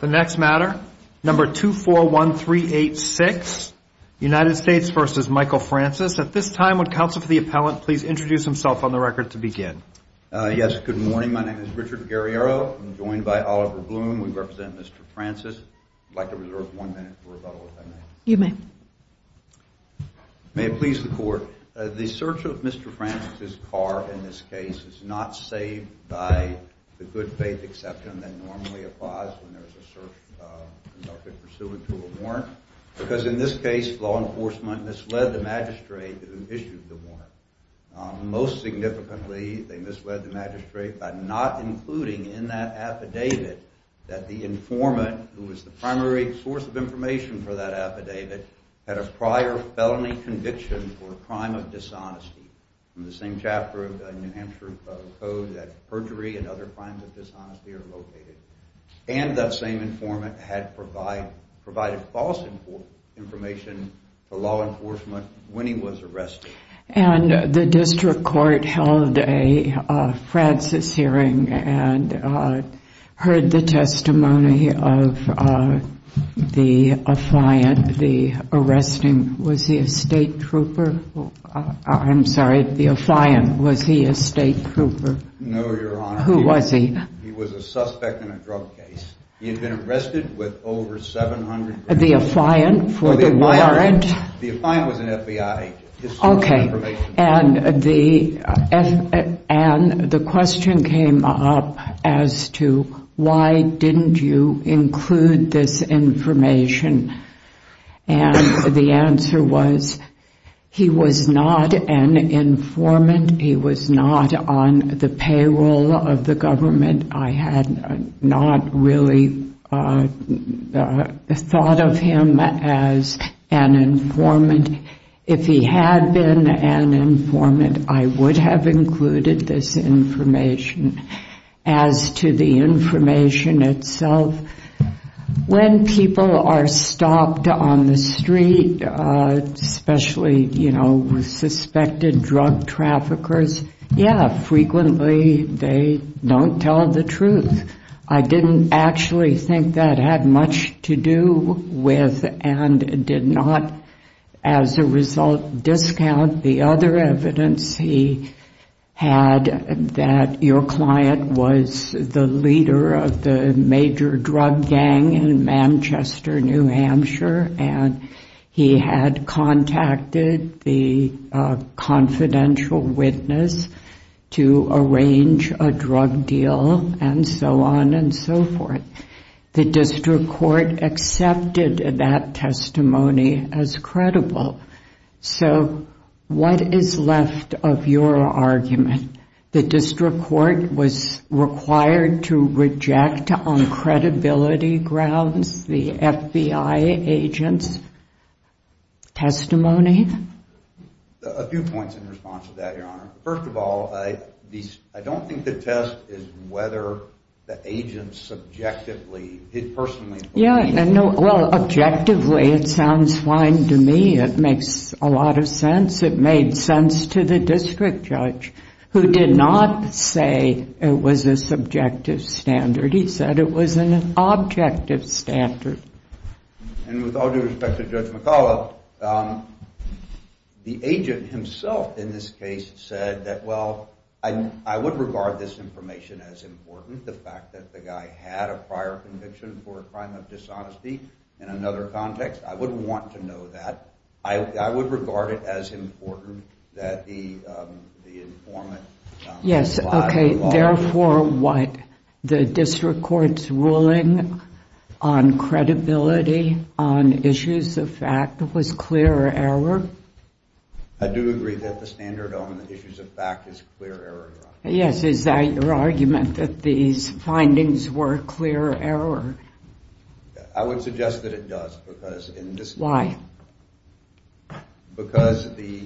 The next matter, number 241386, United States v. Michael Francis. At this time, would counsel for the appellant please introduce himself on the record to begin? Yes, good morning. My name is Richard Guerriero. I'm joined by Oliver Bloom. We represent Mr. Francis. I'd like to reserve one minute for rebuttal, if I may. You may. May it please the court, the search of Mr. Francis' car in this case is not saved by the good faith exception that normally applies when there's a search conducted pursuant to a warrant. Because in this case, law enforcement misled the magistrate who issued the warrant. Most significantly, they misled the magistrate by not including in that affidavit that the informant, who was the primary source of information for that affidavit, had a prior felony conviction for a crime of dishonesty. In the same chapter of the New Hampshire Code that perjury and other crimes of dishonesty are located. And that same informant had provided false information to law enforcement when he was arrested. And the district court held a Francis hearing and heard the testimony of the affliant, the arresting, was he a state trooper? I'm sorry, the affliant, was he a state trooper? No, Your Honor. Who was he? He was a suspect in a drug case. He had been arrested with over 700 grand. The affliant for the warrant? The affliant was an FBI agent. Okay. And the question came up as to why didn't you include this information? And the answer was he was not an informant. He was not on the payroll of the government. I had not really thought of him as an informant. If he had been an informant, I would have included this information. As to the information itself, when people are stopped on the street, especially, you know, suspected drug traffickers, yeah, frequently they don't tell the truth. I didn't actually think that had much to do with and did not, as a result, discount the other evidence he had that your client was the leader of the major drug gang in Manchester, New Hampshire, and he had contacted the confidential witness to arrange a drug deal and so on and so forth. The district court accepted that testimony as credible. So what is left of your argument? The district court was required to reject on credibility grounds the FBI agent's testimony? A few points in response to that, Your Honor. First of all, I don't think the test is whether the agent subjectively did personally believe. Yeah, well, objectively it sounds fine to me. It makes a lot of sense. It made sense to the district judge, who did not say it was a subjective standard. He said it was an objective standard. And with all due respect to Judge McCullough, the agent himself in this case said that, well, I would regard this information as important. The fact that the guy had a prior conviction for a crime of dishonesty in another context, I wouldn't want to know that. I would regard it as important that the informant comply with the law. Yes, okay. Therefore, what? The district court's ruling on credibility on issues of fact was clear error? I do agree that the standard on the issues of fact is clear error, Your Honor. Yes, is that your argument, that these findings were clear error? I would suggest that it does. Why? Because the,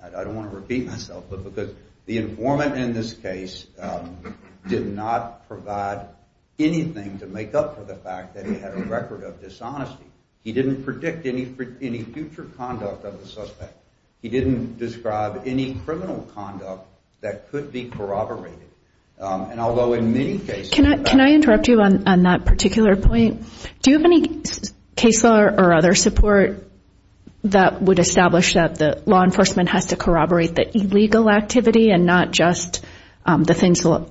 I don't want to repeat myself, but because the informant in this case did not provide anything to make up for the fact that he had a record of dishonesty. He didn't predict any future conduct of the suspect. He didn't describe any criminal conduct that could be corroborated. And although in many cases. Can I interrupt you on that particular point? Do you have any case law or other support that would establish that the law enforcement has to corroborate the illegal activity and not just the things law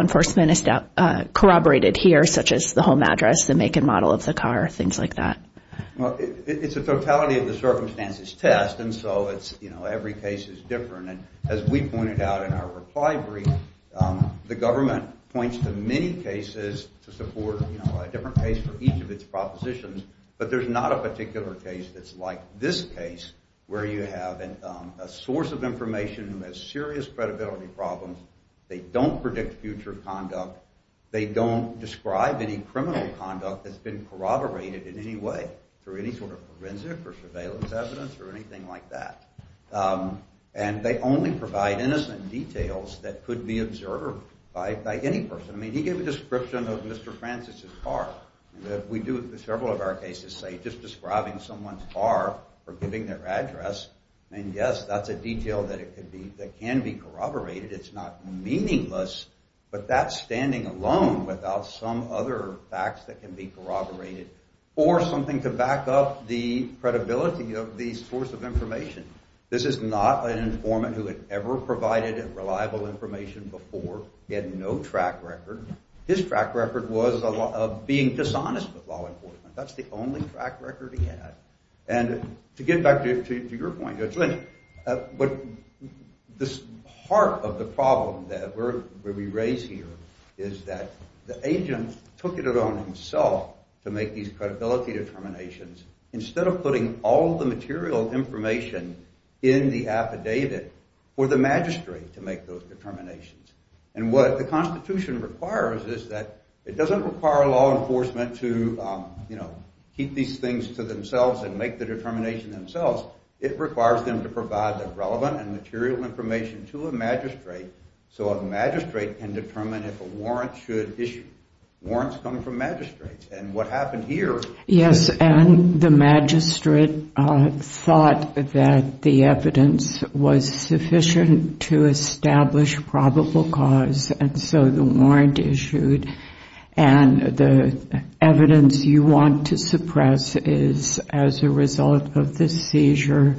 enforcement corroborated here, such as the home address, the make and model of the car, things like that? Well, it's a totality of the circumstances test, and so it's, you know, every case is different. And as we pointed out in our reply brief, the government points to many cases to support, you know, a different case for each of its propositions. But there's not a particular case that's like this case where you have a source of information who has serious credibility problems. They don't predict future conduct. They don't describe any criminal conduct that's been corroborated in any way through any sort of forensic or surveillance evidence or anything like that. And they only provide innocent details that could be observed by any person. I mean, he gave a description of Mr. Francis's car. We do several of our cases say just describing someone's car or giving their address. And yes, that's a detail that can be corroborated. It's not meaningless, but that's standing alone without some other facts that can be corroborated or something to back up the credibility of the source of information. This is not an informant who had ever provided reliable information before. He had no track record. His track record was being dishonest with law enforcement. That's the only track record he had. And to get back to your point, Judge Lynch, this heart of the problem that we raise here is that the agent took it upon himself to make these credibility determinations instead of putting all the material information in the affidavit for the magistrate to make those determinations. And what the Constitution requires is that it doesn't require law enforcement to keep these things to themselves and make the determination themselves. It requires them to provide the relevant and material information to a magistrate so a magistrate can determine if a warrant should issue. Warrants come from magistrates. And what happened here is that... Yes, and the magistrate thought that the evidence was sufficient to establish probable cause, and so the warrant issued. And the evidence you want to suppress is as a result of the seizure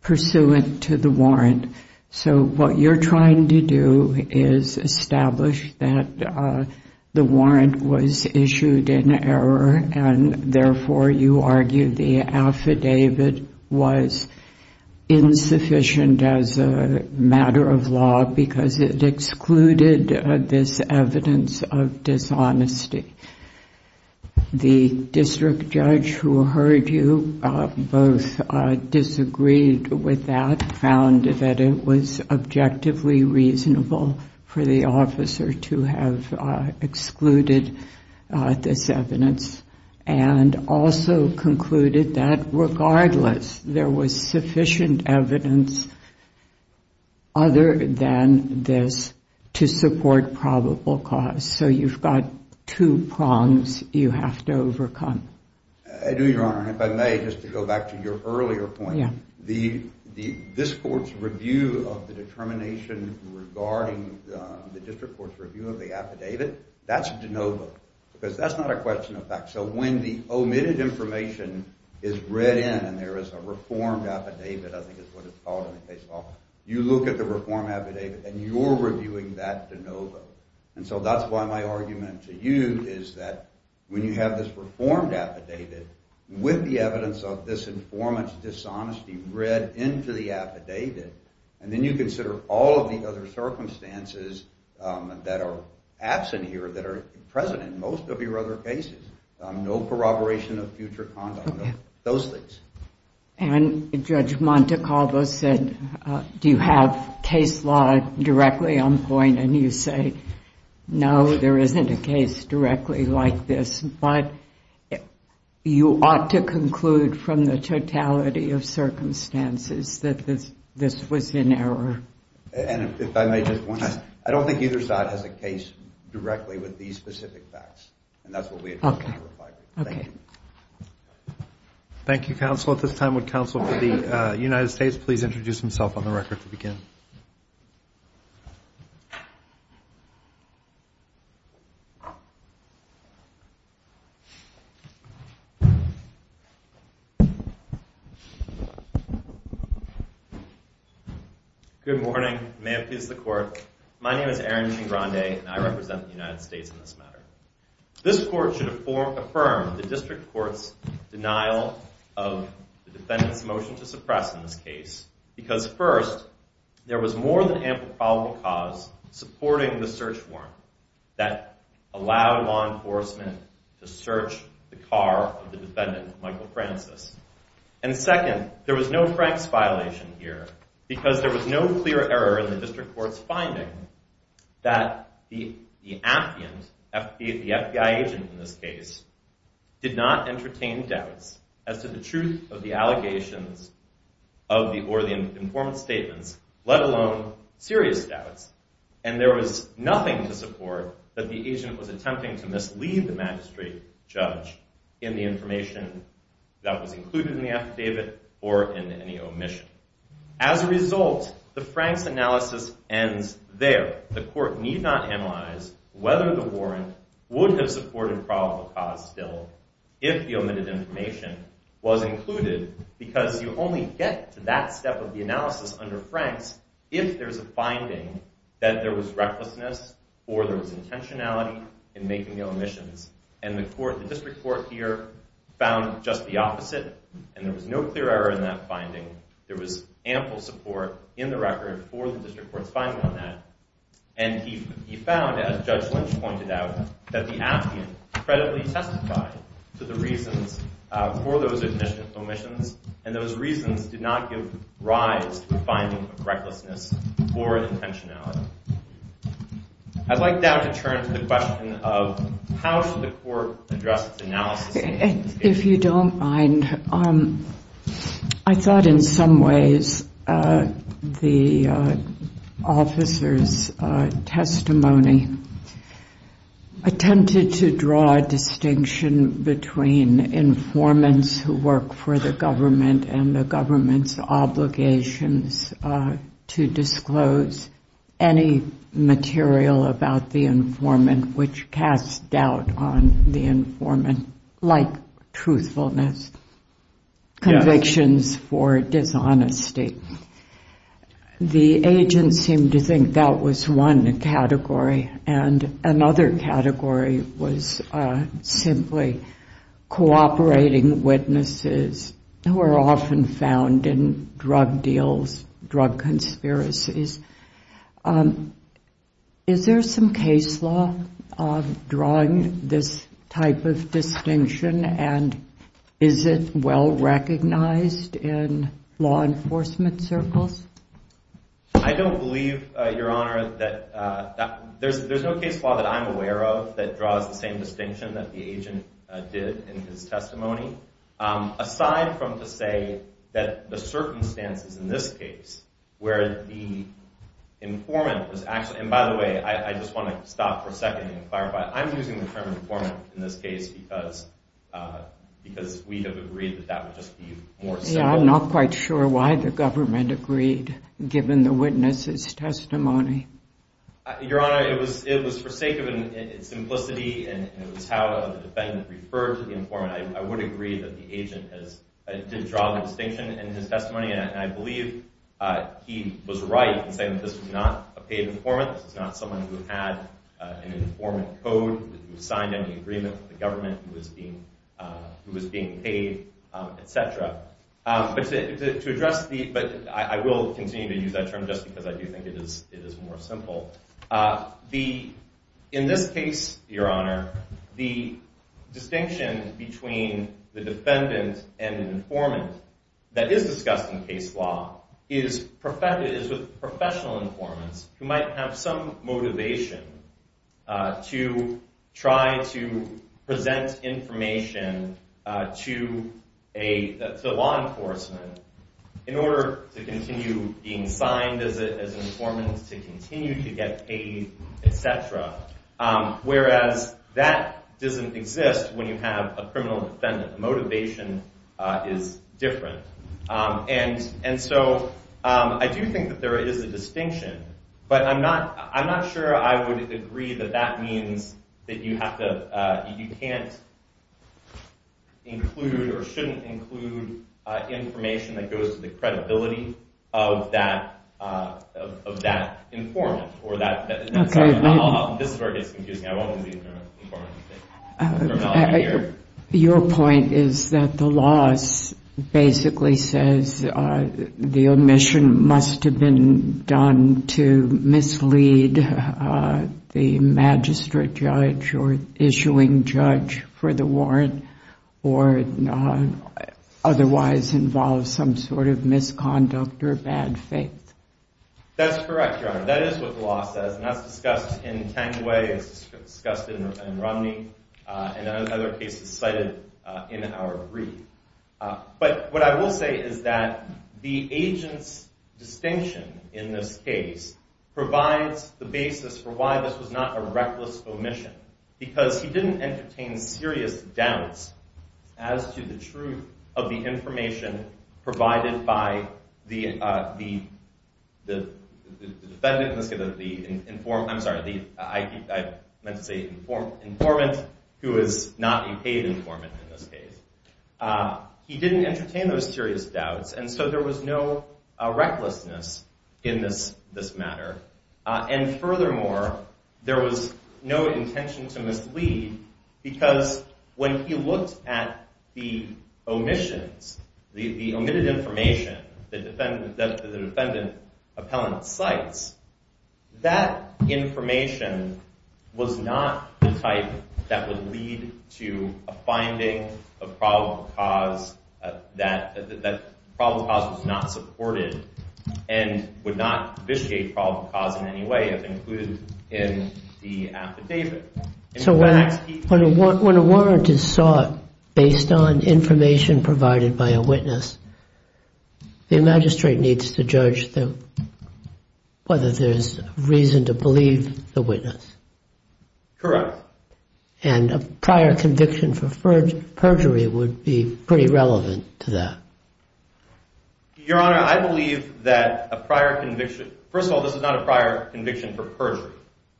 pursuant to the warrant. So what you're trying to do is establish that the warrant was issued in error and therefore you argue the affidavit was insufficient as a matter of law because it excluded this evidence of dishonesty. The district judge who heard you both disagreed with that, found that it was objectively reasonable for the officer to have excluded this evidence, and also concluded that regardless there was sufficient evidence other than this to support probable cause. So you've got two prongs you have to overcome. I do, Your Honor, and if I may, just to go back to your earlier point, this court's review of the determination regarding the district court's review of the affidavit, that's de novo because that's not a question of fact. So when the omitted information is read in and there is a reformed affidavit, I think that's what it's called in the case law, you look at the reformed affidavit and you're reviewing that de novo. And so that's why my argument to you is that when you have this reformed affidavit with the evidence of this informant's dishonesty read into the affidavit, and then you consider all of the other circumstances that are absent here, that are present in most of your other cases, no corroboration of future content, those things. And Judge Montecalvo said, do you have case law directly on point? And you say, no, there isn't a case directly like this, but you ought to conclude from the totality of circumstances that this was in error. And if I may just point out, I don't think either side has a case directly with these specific facts, and that's what we addressed in the reply brief. Okay. Thank you, counsel. At this time, would counsel for the United States please introduce himself on the record to begin? Good morning. May it please the Court. My name is Aaron Negrande, and I represent the United States in this matter. This Court should affirm the District Court's denial of the defendant's motion to suppress in this case, because first, there was more than ample probable cause supporting the search warrant that allowed law enforcement to search the car of the defendant, Michael Francis. And second, there was no Frank's violation here, because there was no clear error in the District Court's finding that the FBI agent in this case did not entertain doubts as to the truth of the allegations or the informed statements, let alone serious doubts, and there was nothing to support that the agent was attempting to mislead the magistrate judge in the information that was included in the affidavit or in any omission. As a result, the Frank's analysis ends there. The Court need not analyze whether the warrant would have supported probable cause still if the omitted information was included, because you only get to that step of the analysis under Frank's if there's a finding that there was recklessness or there was intentionality in making the omissions. And the District Court here found just the opposite, and there was no clear error in that finding. There was ample support in the record for the District Court's finding on that, and he found, as Judge Lynch pointed out, that the affidavit credibly testified to the reasons for those omissions, and those reasons did not give rise to a finding of recklessness or intentionality. I'd like now to turn to the question of how should the Court address its analysis. If you don't mind, I thought in some ways the officer's testimony attempted to draw a distinction between informants who work for the government and the government's obligations to disclose any material about the informant which casts doubt on the informant, like truthfulness, convictions for dishonesty. The agents seem to think that was one category, and another category was simply cooperating witnesses who are often found in drug deals, drug conspiracies. Is there some case law drawing this type of distinction, and is it well recognized in law enforcement circles? I don't believe, Your Honor, that there's no case law that I'm aware of that draws the same distinction that the agent did in his testimony, aside from to say that the circumstances in this case where the informant was actually, and by the way, I just want to stop for a second and clarify, I'm using the term informant in this case because we have agreed that that would just be more simple. Yeah, I'm not quite sure why the government agreed, given the witness's testimony. Your Honor, it was for sake of simplicity, and it was how the defendant referred to the informant. I would agree that the agent did draw the distinction in his testimony, and I believe he was right in saying that this was not a paid informant. This is not someone who had an informant code, who signed any agreement with the government, who was being paid, et cetera. But I will continue to use that term just because I do think it is more simple. In this case, Your Honor, the distinction between the defendant and an informant that is discussed in case law is with professional informants who might have some motivation to try to present information to law enforcement in order to continue being signed as an informant, to continue to get paid, et cetera, whereas that doesn't exist when you have a criminal defendant. The motivation is different. And so I do think that there is a distinction, but I'm not sure I would agree that that means that you can't include or shouldn't include information that goes to the credibility of that informant. This is where it gets confusing. Your point is that the law basically says the omission must have been done to mislead the magistrate judge or issuing judge for the warrant or otherwise involve some sort of misconduct or bad faith. That's correct, Your Honor. That is what the law says, and that's discussed in 10 ways. It's discussed in Romney and other cases cited in our brief. But what I will say is that the agent's distinction in this case provides the basis for why this was not a reckless omission because he didn't entertain serious doubts as to the truth of the information provided by the defendant. I'm sorry. I meant to say informant who is not a paid informant in this case. He didn't entertain those serious doubts, and so there was no recklessness in this matter. And furthermore, there was no intention to mislead because when he looked at the omissions, the omitted information that the defendant appellant cites, that information was not the type that would lead to a finding of probable cause, that probable cause was not supported and would not vitiate probable cause in any way as included in the affidavit. So when a warrant is sought based on information provided by a witness, the magistrate needs to judge whether there's reason to believe the witness. Correct. And a prior conviction for perjury would be pretty relevant to that. Your Honor, I believe that a prior conviction, first of all, this is not a prior conviction for perjury.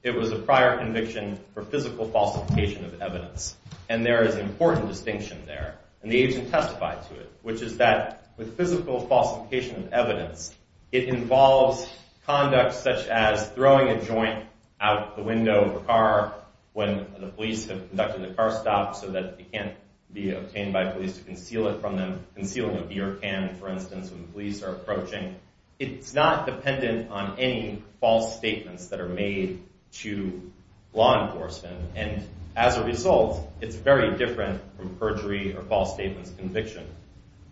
It was a prior conviction for physical falsification of evidence, and there is an important distinction there, and the agent testified to it, which is that with physical falsification of evidence, it involves conduct such as throwing a joint out the window of a car when the police have conducted the car stop so that it can't be obtained by police to conceal it from them, concealing a beer can, for instance, when police are approaching. It's not dependent on any false statements that are made to law enforcement, and as a result, it's very different from perjury or false statements conviction.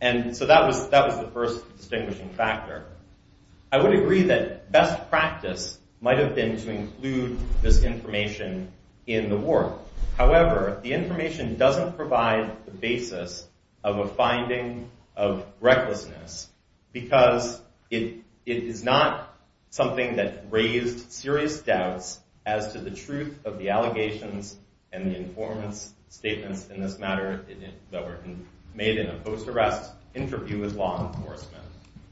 And so that was the first distinguishing factor. I would agree that best practice might have been to include this information in the warrant. However, the information doesn't provide the basis of a finding of recklessness because it is not something that raised serious doubts as to the truth of the allegations and the informed statements in this matter that were made in a post-arrest interview with law enforcement,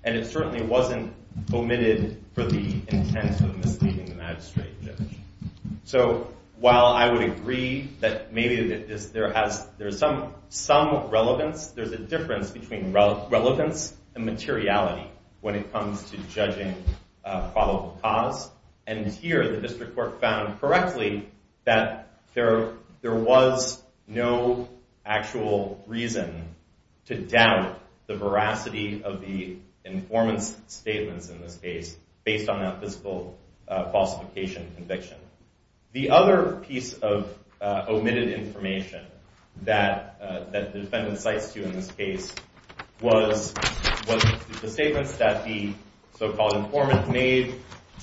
and it certainly wasn't omitted for the intent of misleading the magistrate and judge. So while I would agree that maybe there's some relevance, there's a difference between relevance and materiality when it comes to judging probable cause, and here the district court found correctly that there was no actual reason to doubt the veracity of the informant's statements in this case based on that physical falsification conviction. The other piece of omitted information that the defendant cites here in this case was the statements that the so-called informant made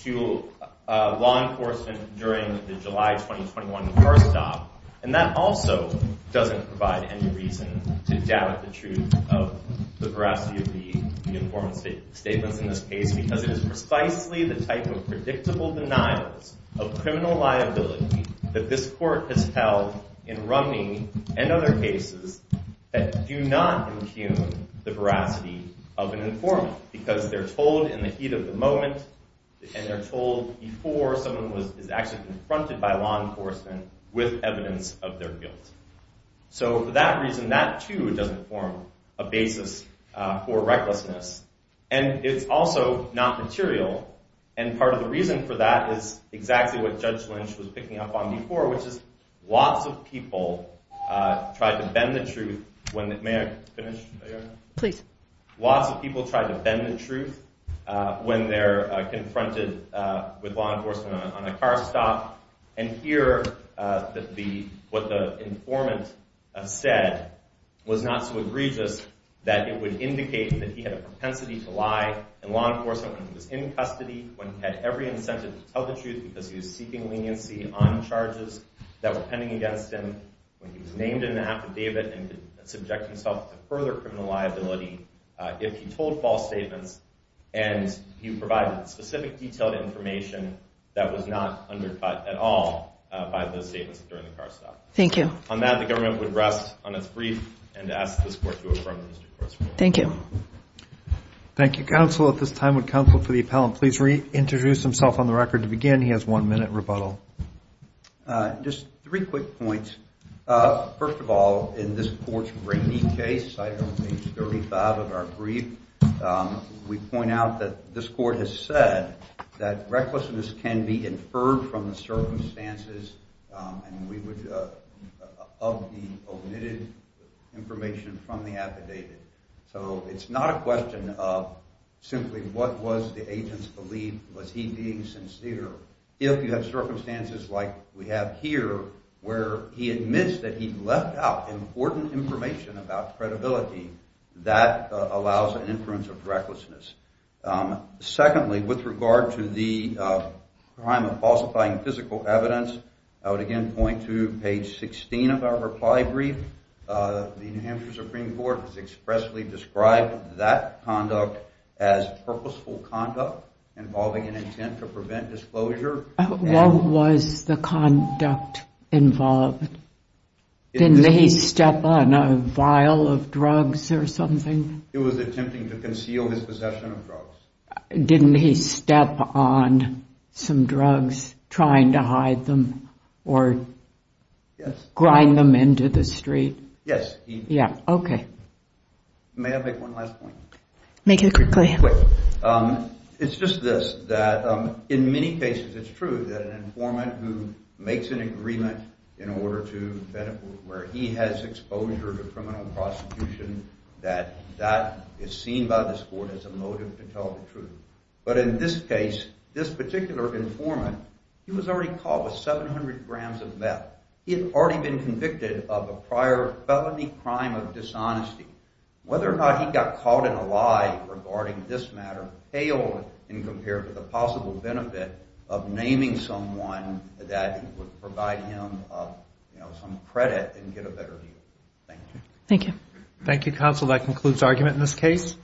to law enforcement during the July 2021 car stop, and that also doesn't provide any reason to doubt the truth of the veracity of the informant's statements in this case because it is precisely the type of predictable denials of criminal liability that this court has held in Rumney and other cases that do not impugn the veracity of an informant because they're told in the heat of the moment and they're told before someone is actually confronted by law enforcement with evidence of their guilt. So for that reason, that too doesn't form a basis for recklessness, and it's also not material, and part of the reason for that is exactly what Judge Lynch was picking up on before, which is lots of people try to bend the truth when they're confronted with law enforcement on a car stop, and here, what the informant said was not so egregious that it would indicate that he had a propensity to lie in law enforcement when he was in custody, when he had every incentive to tell the truth because he was seeking leniency on charges that were pending against him, when he was named in an affidavit and could subject himself to further criminal liability if he told false statements and he provided specific detailed information that was not undercut at all by those statements during the car stop. Thank you. On that, the government would rest on its brief and ask this court to affirm Mr. Corso. Thank you. Thank you, counsel. At this time, would counsel for the appellant please reintroduce himself on the record to begin? He has one minute rebuttal. Just three quick points. First of all, in this court's breaking case, cited on page 35 of our brief, we point out that this court has said that recklessness can be inferred from the circumstances of the omitted information from the affidavit. So it's not a question of simply what was the agent's belief, was he being sincere. If you have circumstances like we have here where he admits that he left out important information about credibility, that allows an inference of recklessness. Secondly, with regard to the crime of falsifying physical evidence, I would again point to page 16 of our reply brief. The New Hampshire Supreme Court has expressly described that conduct as purposeful conduct involving an intent to prevent disclosure. What was the conduct involved? Didn't he step on a vial of drugs or something? He was attempting to conceal his possession of drugs. Didn't he step on some drugs trying to hide them or grind them into the street? Yes. Okay. May I make one last point? Make it quick. It's just this, that in many cases it's true that an informant who makes an agreement in order to benefit where he has exposure to criminal prosecution, that that is seen by this court as a motive to tell the truth. But in this case, this particular informant, he was already caught with 700 grams of meth. He had already been convicted of a prior felony crime of dishonesty. Whether or not he got caught in a lie regarding this matter paled in comparison to the possible benefit of naming someone that would provide him some credit and get a better view. Thank you. Thank you. Thank you, counsel. That concludes argument in this case.